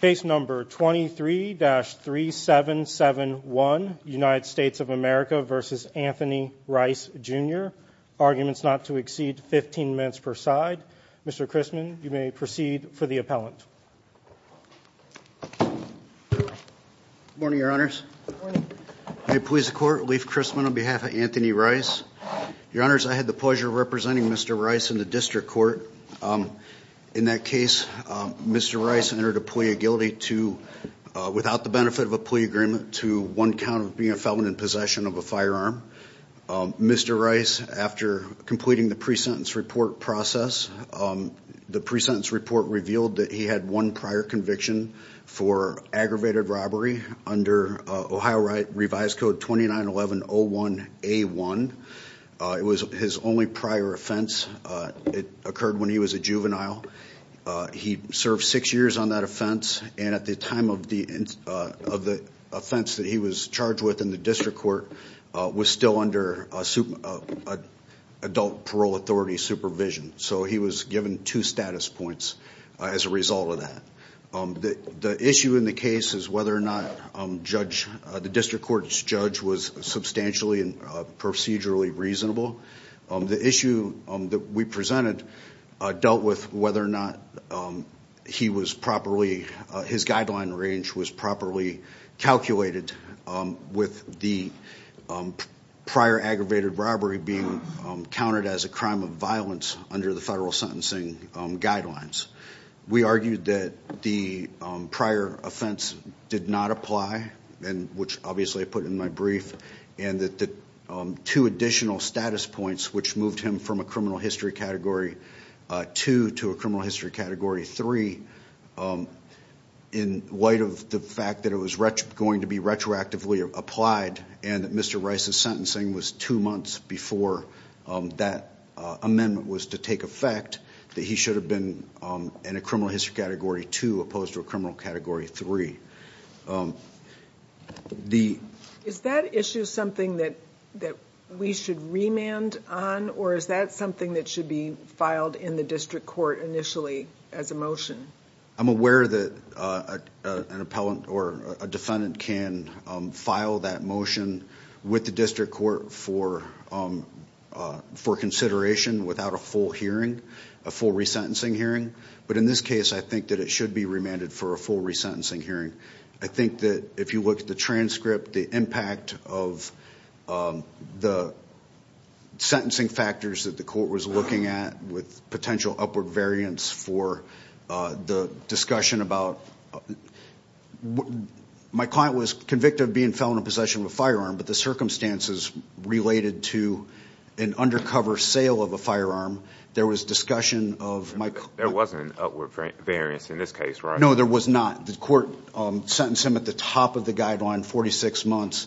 Case number 23-3771 United States of America v. Anthony Rice Jr. Arguments not to exceed 15 minutes per side. Mr. Christman, you may proceed for the appellant. Good morning, your honors. May it please the court, Leif Christman on behalf of Anthony Rice. Your honors, I had the pleasure of representing Mr. Rice in the plea of guilty to, without the benefit of a plea agreement, to one count of being a felon in possession of a firearm. Mr. Rice, after completing the pre-sentence report process, the pre-sentence report revealed that he had one prior conviction for aggravated robbery under Ohio Revised Code 2911-01A1. It was his only prior offense. It occurred when he was a juvenile. He served six years on that offense, and at the time of the offense that he was charged with in the district court, was still under adult parole authority supervision. So he was given two status points as a result of that. The issue in the case is whether or not the district court's judge was substantially and procedurally reasonable. The issue that we presented dealt with whether or not he was properly, his guideline range was properly calculated with the prior aggravated robbery being counted as a crime of violence under the federal sentencing guidelines. We argued that the prior offense did not apply, which obviously I put in my brief, and that the two additional status points which moved him from a criminal history category 2 to a criminal history category 3, in light of the fact that it was going to be retroactively applied and that Mr. Rice's sentencing was two months before that amendment was to take effect, that he should have been in a criminal history category 2 opposed to a criminal category 3. Is that issue something that we should remand on, or is that something that should be filed in the district court initially as a motion? I'm aware that an appellant or a defendant can file that motion with the district court for consideration without a full hearing, a full resentencing hearing, but in this case I think that it should be for a full resentencing hearing. I think that if you look at the transcript, the impact of the sentencing factors that the court was looking at with potential upward variance for the discussion about, my client was convicted of being found in possession of a firearm, but the circumstances related to an undercover sale of a firearm, there was discussion of... There wasn't an upward variance in this case, right? No, there was not. The court sentenced him at the top of the guideline, 46 months,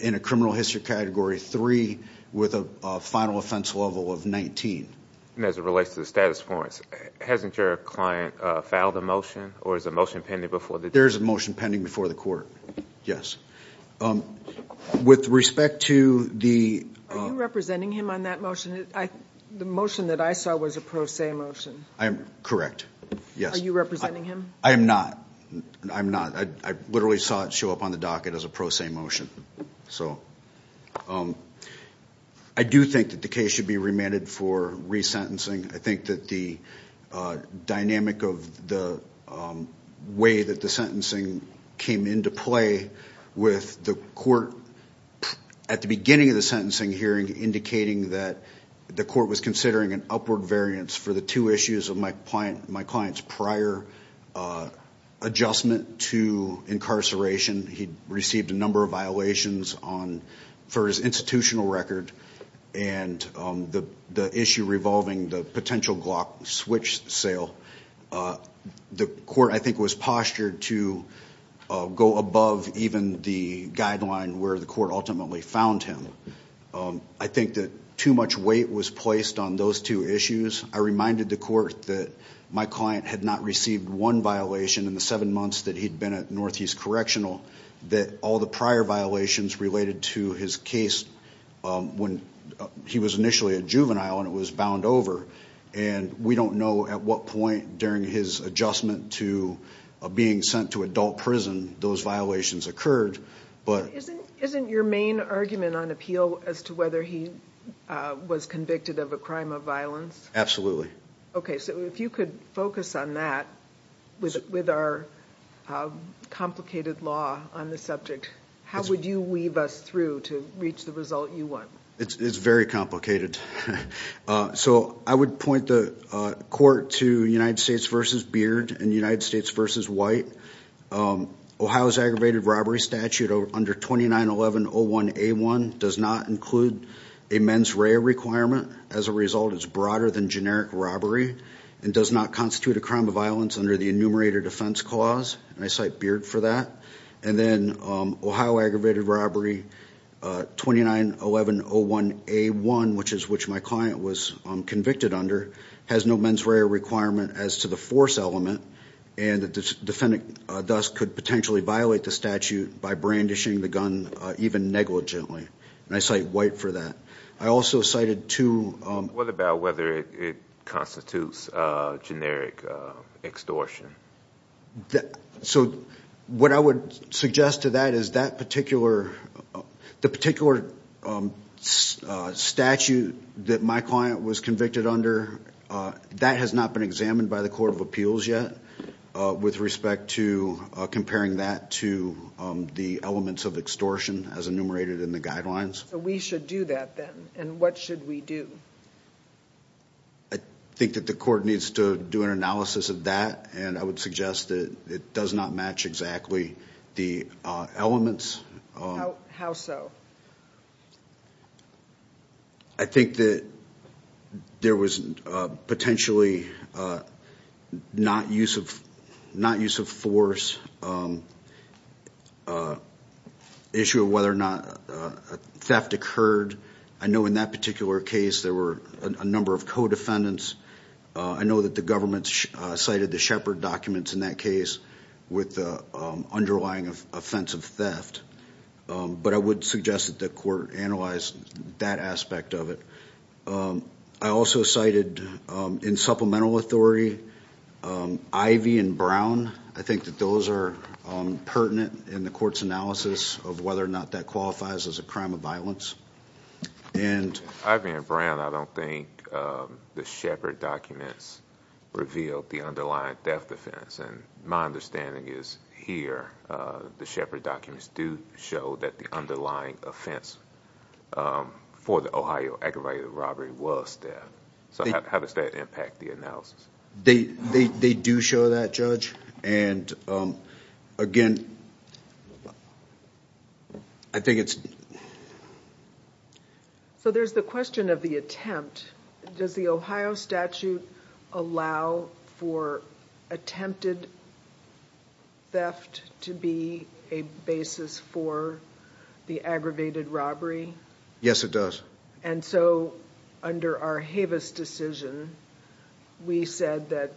in a criminal history category 3 with a final offense level of 19. And as it relates to the status quo, hasn't your client filed a motion, or is a motion pending before the court? There's a motion pending before the court, yes. With respect to the... Are you representing him on that motion? The motion? I am not. I'm not. I literally saw it show up on the docket as a pro se motion. So, I do think that the case should be remanded for resentencing. I think that the dynamic of the way that the sentencing came into play with the court, at the beginning of the sentencing hearing, indicating that the court was considering an upward variance for the two issues of my client's prior adjustment to incarceration. He received a number of violations on... For his institutional record, and the issue revolving the potential Glock switch sale. The court, I think, was postured to go above even the guideline where the court ultimately found him. I think that too much weight was placed on those two issues. I reminded the court that my client had not received one violation in the seven months that he'd been at Northeast Correctional, that all the prior violations related to his case when he was initially a juvenile and it was bound over. And we don't know at what point during his adjustment to being sent to adult prison those violations occurred, but... Isn't your main argument on appeal as to whether he was convicted of a crime of violence? Absolutely. Okay, so if you could focus on that with our complicated law on the subject, how would you weave us through to reach the result you want? It's very complicated. So I would point the court to United States v. Beard and United include a mens rea requirement. As a result, it's broader than generic robbery and does not constitute a crime of violence under the enumerator defense clause. And I cite Beard for that. And then Ohio aggravated robbery 29-11-01-A1, which is which my client was convicted under, has no mens rea requirement as to the force element. And the defendant thus could potentially violate the statute by brandishing the gun even negligently. And I cite White for that. I also cited two... What about whether it constitutes a generic extortion? So what I would suggest to that is that particular... The particular statute that my client was convicted under, that has not been examined by the Court of Appeals yet with respect to comparing that to the elements of extortion as enumerated in the guidelines. So we should do that then, and what should we do? I think that the court needs to do an analysis of that, and I would suggest that it does not match exactly the elements. How so? I think that there was potentially not use of force, issue of whether or not theft occurred. I know in that particular case there were a number of co-defendants. I know that the government cited the Shepard documents in that case with the underlying of offensive theft, but I would suggest that the court analyzed that aspect of it. I also cited in Supplemental Authority Ivy and Brown. I think that those are pertinent in the court's analysis of whether or not that qualifies as a crime of violence, and... Ivy and Brown, I don't think the Shepard documents revealed the underlying theft offense, and my understanding is here the Shepard documents do show that the underlying offense for the Ohio aggravated robbery was theft. So how does that impact the analysis? They do show that, Judge, and again, I think it's... So there's the question of the attempt. Does the Ohio statute allow for attempted theft to be a basis for the aggravated robbery? Yes, it does. And so under our Havis decision, we said that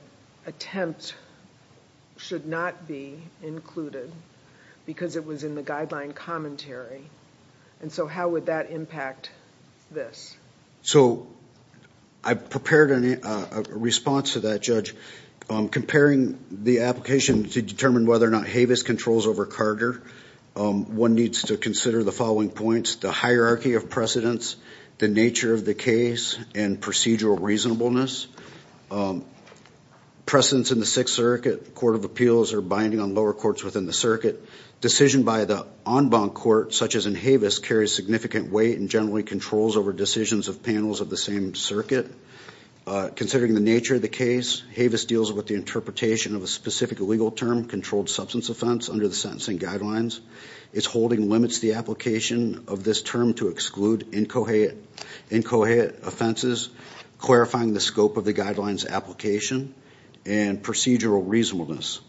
attempt should not be included because it was in the guideline commentary, and so how would that impact this? So I've prepared a response to that, Judge. Comparing the application to determine whether or not Havis controls over Carter, one needs to consider the following points. The procedural reasonableness. Precedents in the Sixth Circuit Court of Appeals are binding on lower courts within the circuit. Decision by the en banc court, such as in Havis, carries significant weight and generally controls over decisions of panels of the same circuit. Considering the nature of the case, Havis deals with the interpretation of a specific legal term, controlled substance offense, under the sentencing guidelines. Its holding limits the application of this term to exclude incoherent offenses, clarifying the scope of the guidelines application, and procedural reasonableness.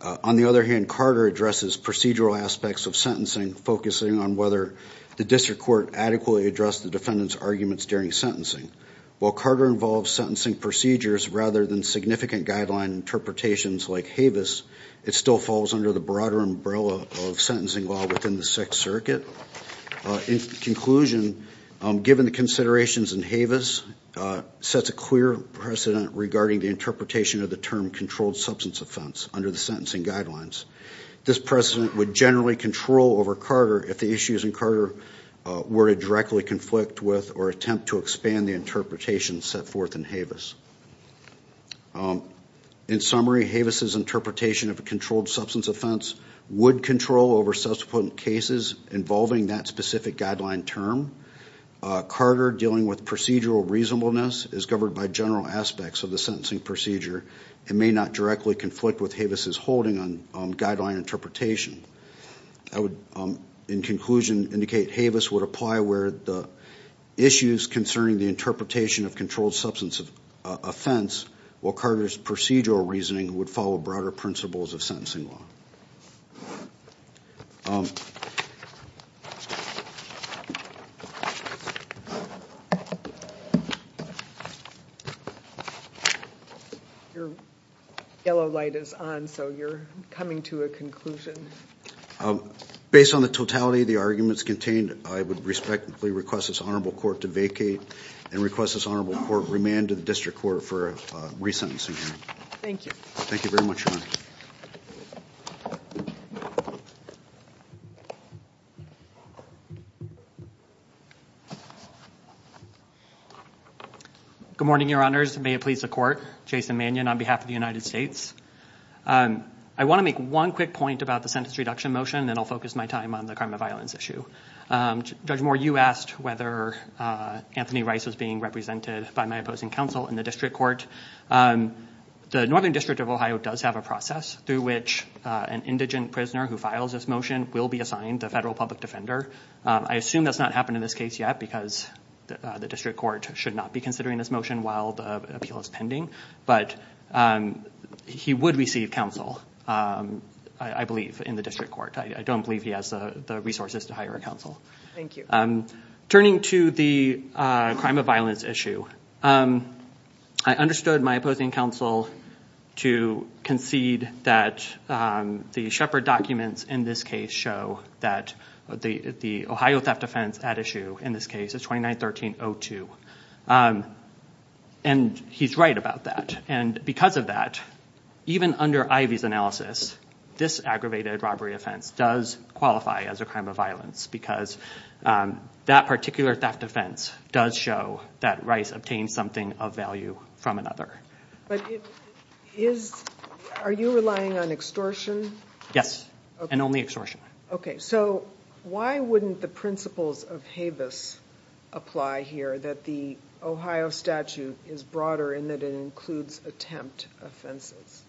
On the other hand, Carter addresses procedural aspects of sentencing, focusing on whether the district court adequately addressed the defendant's arguments during sentencing. While Carter involves sentencing procedures rather than significant guideline interpretations like Havis, it still falls under the broader umbrella of sentencing law within the Sixth Circuit. In conclusion, given the considerations in Havis sets a clear precedent regarding the interpretation of the term controlled substance offense under the sentencing guidelines. This precedent would generally control over Carter if the issues in Carter were to directly conflict with or attempt to expand the interpretation set forth in Havis. In summary, Havis's interpretation of a controlled substance offense would control over subsequent cases involving that specific guideline term. Carter dealing with procedural reasonableness is governed by general aspects of the sentencing procedure and may not directly conflict with Havis's holding on guideline interpretation. I would, in conclusion, indicate Havis would apply where the issues concerning the interpretation of controlled substance offense, while Carter's procedural reasoning would follow broader principles of sentencing law. Your yellow light is on, so you're coming to a conclusion. Based on the totality of the arguments contained, I would respectfully request this honorable court to vacate and request this honorable court remand to the district court for a re-sentencing hearing. Thank you. Thank you very much, Your Honor. Good morning, Your Honors. May it please the court. Jason Mannion on behalf of the United States. I want to make one quick point about the sentence reduction motion, then I'll focus my time on the crime of violence issue. Judge Moore, you asked whether Anthony Rice was being represented by my opposing counsel in the district court. The Northern District of Ohio does have a process through which an indigent prisoner who files this motion will be assigned a federal public defender. I assume that's not happened in this case yet because the district court should not be considering this motion while the appeal is pending, but he would receive counsel, I believe, in the district court. I don't believe he has the resources to hire a counsel. Turning to the crime of violence issue, I understood my opposing counsel to concede that the Shepard documents in this case show that the Ohio theft offense at issue in this case is 29-1302. He's right about that. Because of that, even under Ivey's analysis, this aggravated robbery offense does qualify as a crime of violence because that particular theft offense does show that Rice obtained something of value from another. But are you relying on extortion? Yes, and only extortion. Okay, so why wouldn't the principles of Habeas apply here that the Ohio statute is broader in that it includes attempt offenses?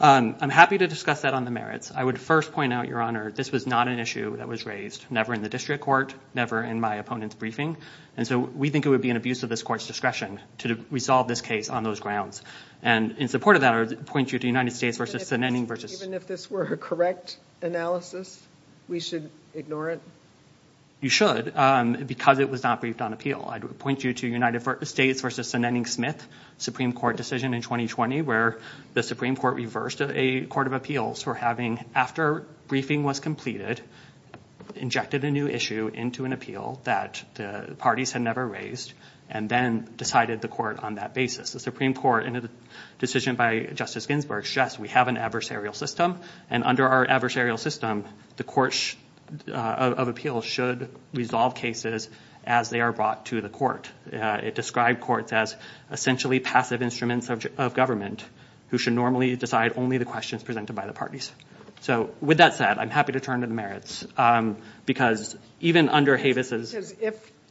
I'm happy to discuss that on the merits. I would first point out, Your Honor, this was not an appeal that was raised, never in the district court, never in my opponent's briefing, and so we think it would be an abuse of this court's discretion to resolve this case on those grounds. And in support of that, I would point you to United States v. Senenning. Even if this were a correct analysis, we should ignore it? You should, because it was not briefed on appeal. I'd point you to United States v. Senenning-Smith, Supreme Court decision in 2020, where the Supreme Court reversed a court of appeals for having, after briefing was completed, injected a new issue into an appeal that the parties had never raised and then decided the court on that basis. The Supreme Court, in a decision by Justice Ginsburg, stressed we have an adversarial system, and under our adversarial system, the courts of appeals should resolve cases as they are brought to the court. It described courts as essentially passive instruments of government, who should normally decide only the questions presented by the parties. So, with that said, I'm happy to turn to the merits, because even under Havis's...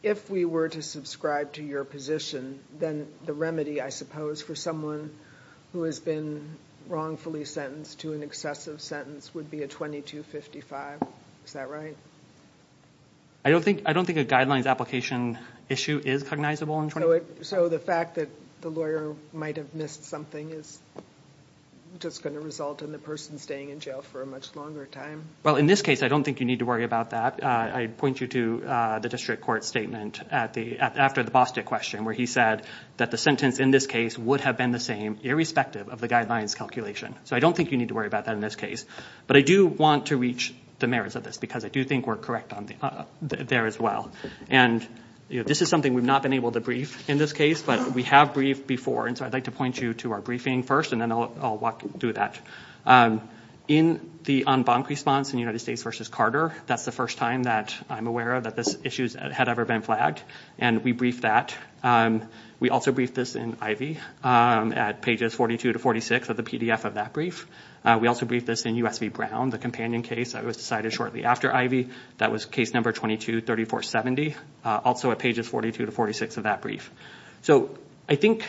If we were to subscribe to your position, then the remedy, I suppose, for someone who has been wrongfully sentenced to an excessive sentence would be a 2255. Is that right? I don't think a guidelines application issue is cognizable. So the fact that the lawyer might have missed something is just going to result in the person staying in jail for a much longer time. Well, in this case, I don't think you need to worry about that. I point you to the district court statement after the Bostick question, where he said that the sentence in this case would have been the same, irrespective of the guidelines calculation. So I don't think you need to worry about that in this case. But I do want to reach the merits of this, because I do think we're correct on there as well. And this is something we've not been able to brief in this case, but we have briefed before, and so I'd like to point you to our briefing first, and then I'll walk through that. In the en banc response in United States v. Carter, that's the first time that I'm aware of that this issue had ever been flagged, and we briefed that. We also briefed this in Ivey at pages 42 to 46 of the PDF of that brief. We also briefed this in U.S. v. Brown, the companion case that was decided shortly after Ivey. That was case number 223470, also at pages 42 to 46 of that brief. So I think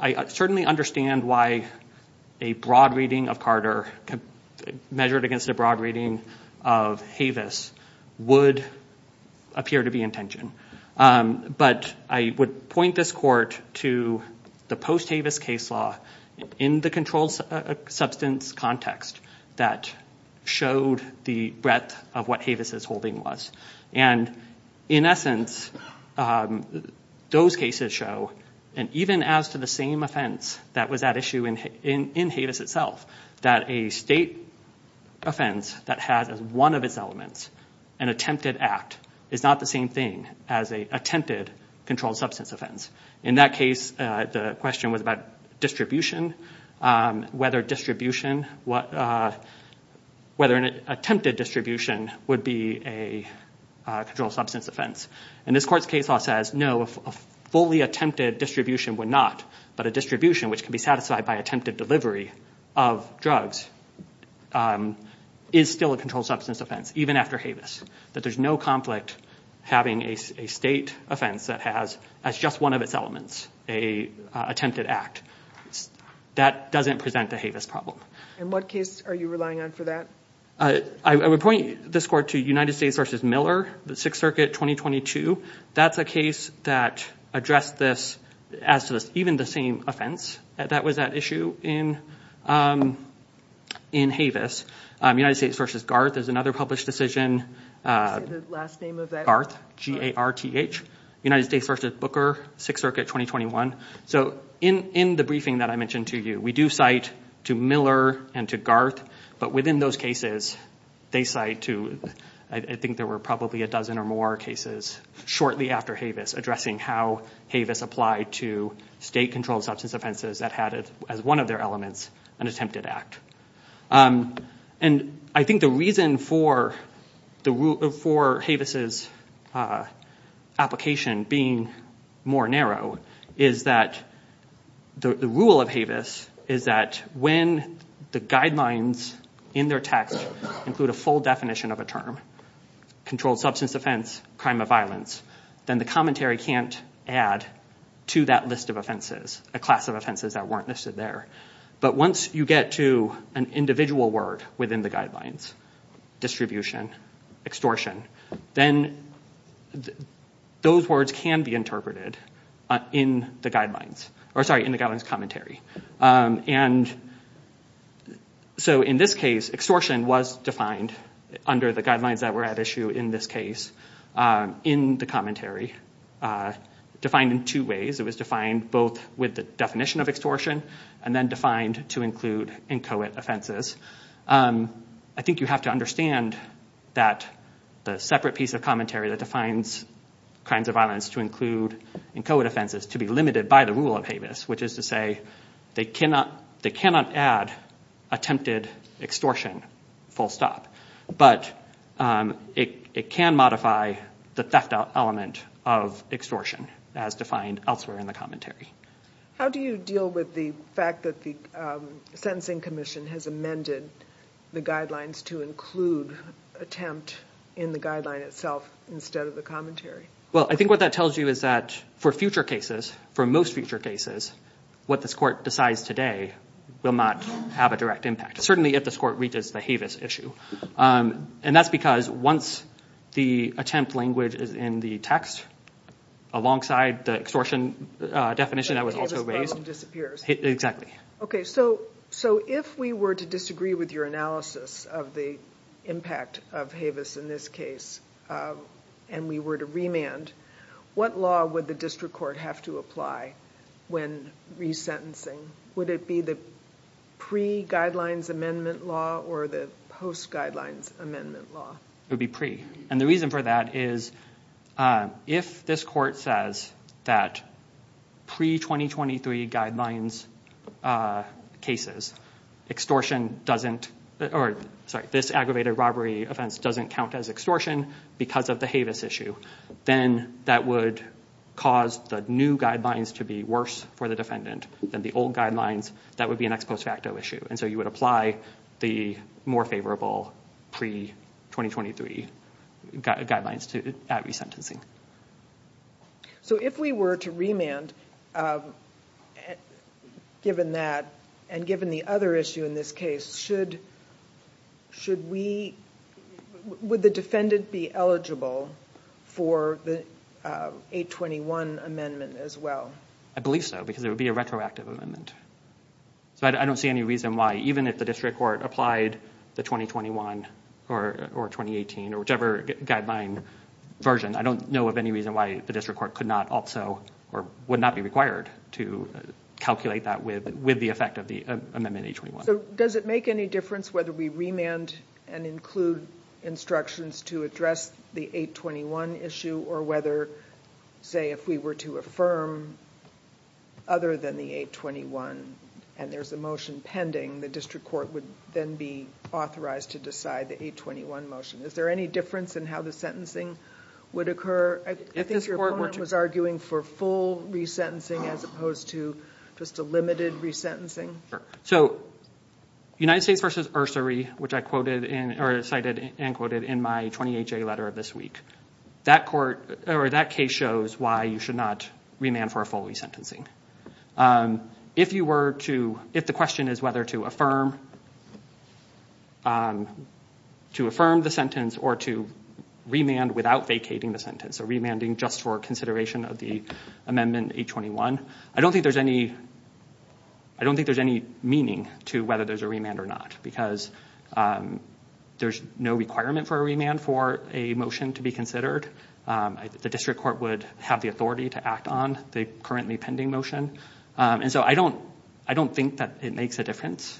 I certainly understand why a broad reading of Carter, measured against a broad reading of Havis, would appear to be in tension. But I would point this court to the post-Havis case law in the controlled substance context that showed the breadth of what Havis' holding was. And in essence, those cases show, and even as to the same offense that was at issue in Havis itself, that a state offense that has one of its elements, an attempted act, is not the same thing as a attempted controlled substance offense. In that case, the question was about distribution, whether an attempted distribution would be a controlled substance offense. And this court's case law says, no, a fully attempted distribution would not, but a distribution which can be satisfied by attempted delivery of drugs is still a controlled substance offense, even after Havis. That there's no conflict having a state offense that has just one of its elements, an attempted act. That doesn't present a Havis problem. In what case are you relying on for that? I would point this court to United States v. Miller, the Sixth Circuit, 2022. That's a case that addressed this, as to even the same offense that was at issue in Havis. United States v. Garth is another published decision. G-A-R-T-H. United States v. Booker, Sixth Circuit, 2021. So in the briefing that I mentioned to you, we do cite to Miller and to Garth, but within those cases, they cite to, I think there were probably a dozen or more cases shortly after Havis, addressing how Havis applied to state controlled substance offenses that had, as one of their elements, an attempted act. And I think the reason for Havis' application being more narrow is that the rule of Havis is that when the guidelines in their text include a full definition of a term, controlled substance offense, crime of violence, then the commentary can't add to that list of offenses, a class of offenses that weren't listed there. But once you get to an individual word within the guidelines, distribution, extortion, then those words can be interpreted in the guidelines, or sorry, in the guidelines commentary. And so in this case, extortion was defined under the guidelines that were at issue in this case, in the commentary, defined in two ways. It was both with the definition of extortion and then defined to include inchoate offenses. I think you have to understand that the separate piece of commentary that defines crimes of violence to include inchoate offenses to be limited by the rule of Havis, which is to say they cannot add attempted extortion, full stop. But it can modify the theft element of extortion as defined elsewhere in commentary. How do you deal with the fact that the Sentencing Commission has amended the guidelines to include attempt in the guideline itself instead of the commentary? Well, I think what that tells you is that for future cases, for most future cases, what this court decides today will not have a direct impact, certainly if this court reaches the Havis issue. And that's because once the attempt language is in the text, alongside the extortion definition that was also raised... So the Havis problem disappears. Exactly. Okay, so if we were to disagree with your analysis of the impact of Havis in this case and we were to remand, what law would the district court have to apply when resentencing? Would it be the pre-guidelines amendment law or the post-guidelines amendment law? It would be pre. And the reason for that is if this court says that pre-2023 guidelines cases, extortion doesn't... Sorry, this aggravated robbery offense doesn't count as extortion because of the Havis issue, then that would cause the new guidelines to be worse for the defendant than the old guidelines. That would be an ex post facto issue. And so you would apply the more favorable pre- 2023 guidelines to that resentencing. So if we were to remand, given that and given the other issue in this case, should we... Would the defendant be eligible for the 821 amendment as well? I believe so because it would be a So I don't see any reason why, even if the district court applied the 2021 or 2018 or whichever guideline version, I don't know of any reason why the district court could not also or would not be required to calculate that with with the effect of the amendment 821. So does it make any difference whether we remand and include instructions to address the 821 issue or whether, say, if we were to affirm other than the 821 and there's a motion pending, the district court would then be authorized to decide the 821 motion. Is there any difference in how the sentencing would occur? I think your opponent was arguing for full resentencing as opposed to just a limited resentencing. So United States v. Ursary, which I cited and quoted in my 28-J letter of this week, that court or that case shows why you should not remand for a full resentencing. If you were to... If the question is whether to affirm the sentence or to remand without vacating the sentence or remanding just for consideration of the amendment 821, I don't think there's any... I don't think there's any meaning to whether there's a remand or not because there's no requirement for a remand for a motion to be considered. The district court would have the authority to act on the currently pending motion. And so I don't think that it makes a difference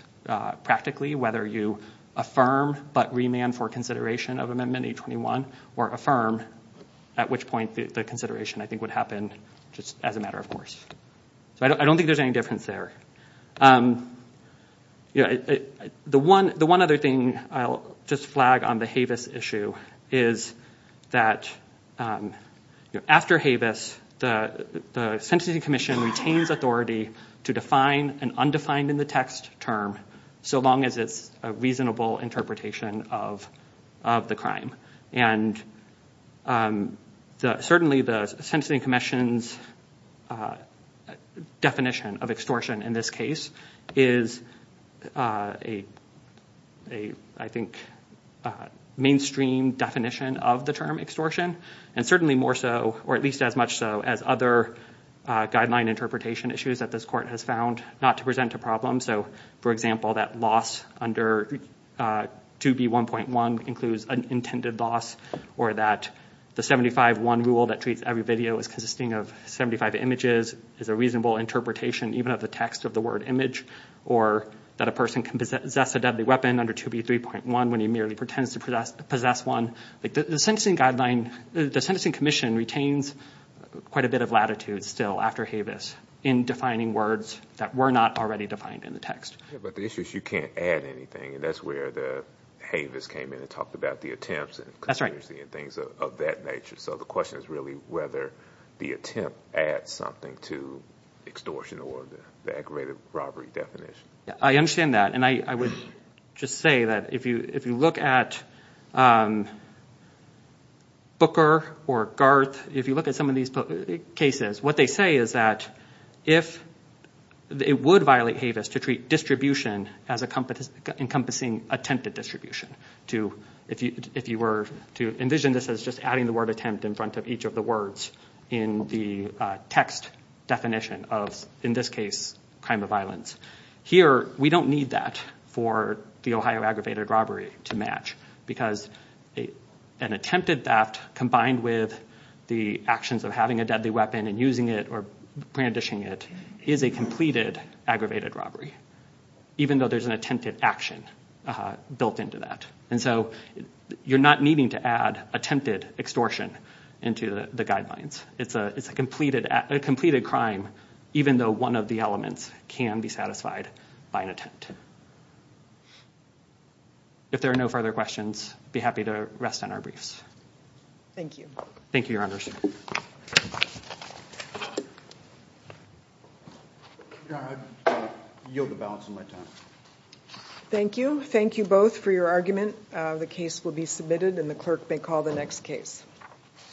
practically whether you affirm but remand for consideration of amendment 821 or affirm, at which point the consideration I think would happen just as a matter of course. So I don't think there's any difference there. The one other thing I'll just flag on the Havis issue is that after Havis, the Sentencing Commission retains authority to define an undefined in the text term so long as it's a reasonable interpretation of the crime. And certainly the Sentencing Commission's definition of extortion in this case is a I think mainstream definition of the term extortion and certainly more so or at least as much so as other guideline interpretation issues that this court has found not to present a problem. So for example that loss under 2B1.1 includes an intended loss or that the 75-1 rule that treats every video as consisting of 75 images is a reasonable interpretation even of the text of the word image or that a person can possess a deadly weapon under 2B3.1 when he merely pretends to possess one. The Sentencing Commission retains quite a bit of latitude still after Havis in defining words that were not already defined in the text. But the issue is you can't add anything and that's where the Havis came in and talked about the attempts and conspiracy and things of that nature. So the question is really whether the attempt adds something to extortion or the aggravated robbery definition. I understand that and I would just say that if you if you look at Booker or Garth, if you look at some of these cases what they say is that if it would violate Havis to treat distribution as a encompassing attempted distribution. If you were to envision this as just adding the word attempt in front of each of the words in the text definition of in this case crime of violence. Here we don't need that for the Ohio aggravated robbery to match because an attempted theft combined with the actions of having a deadly weapon and using it or brandishing it is a completed aggravated robbery. Even though there's an attempted action built into that and so you're not needing to add attempted extortion into the guidelines. It's a it's a completed a completed crime even though one of the elements can be satisfied by an attempt. If there are no further questions be happy to rest on our briefs. Thank you. Thank you your honors. Thank you. Thank you both for your argument. The case will be submitted and the clerk may call the next case.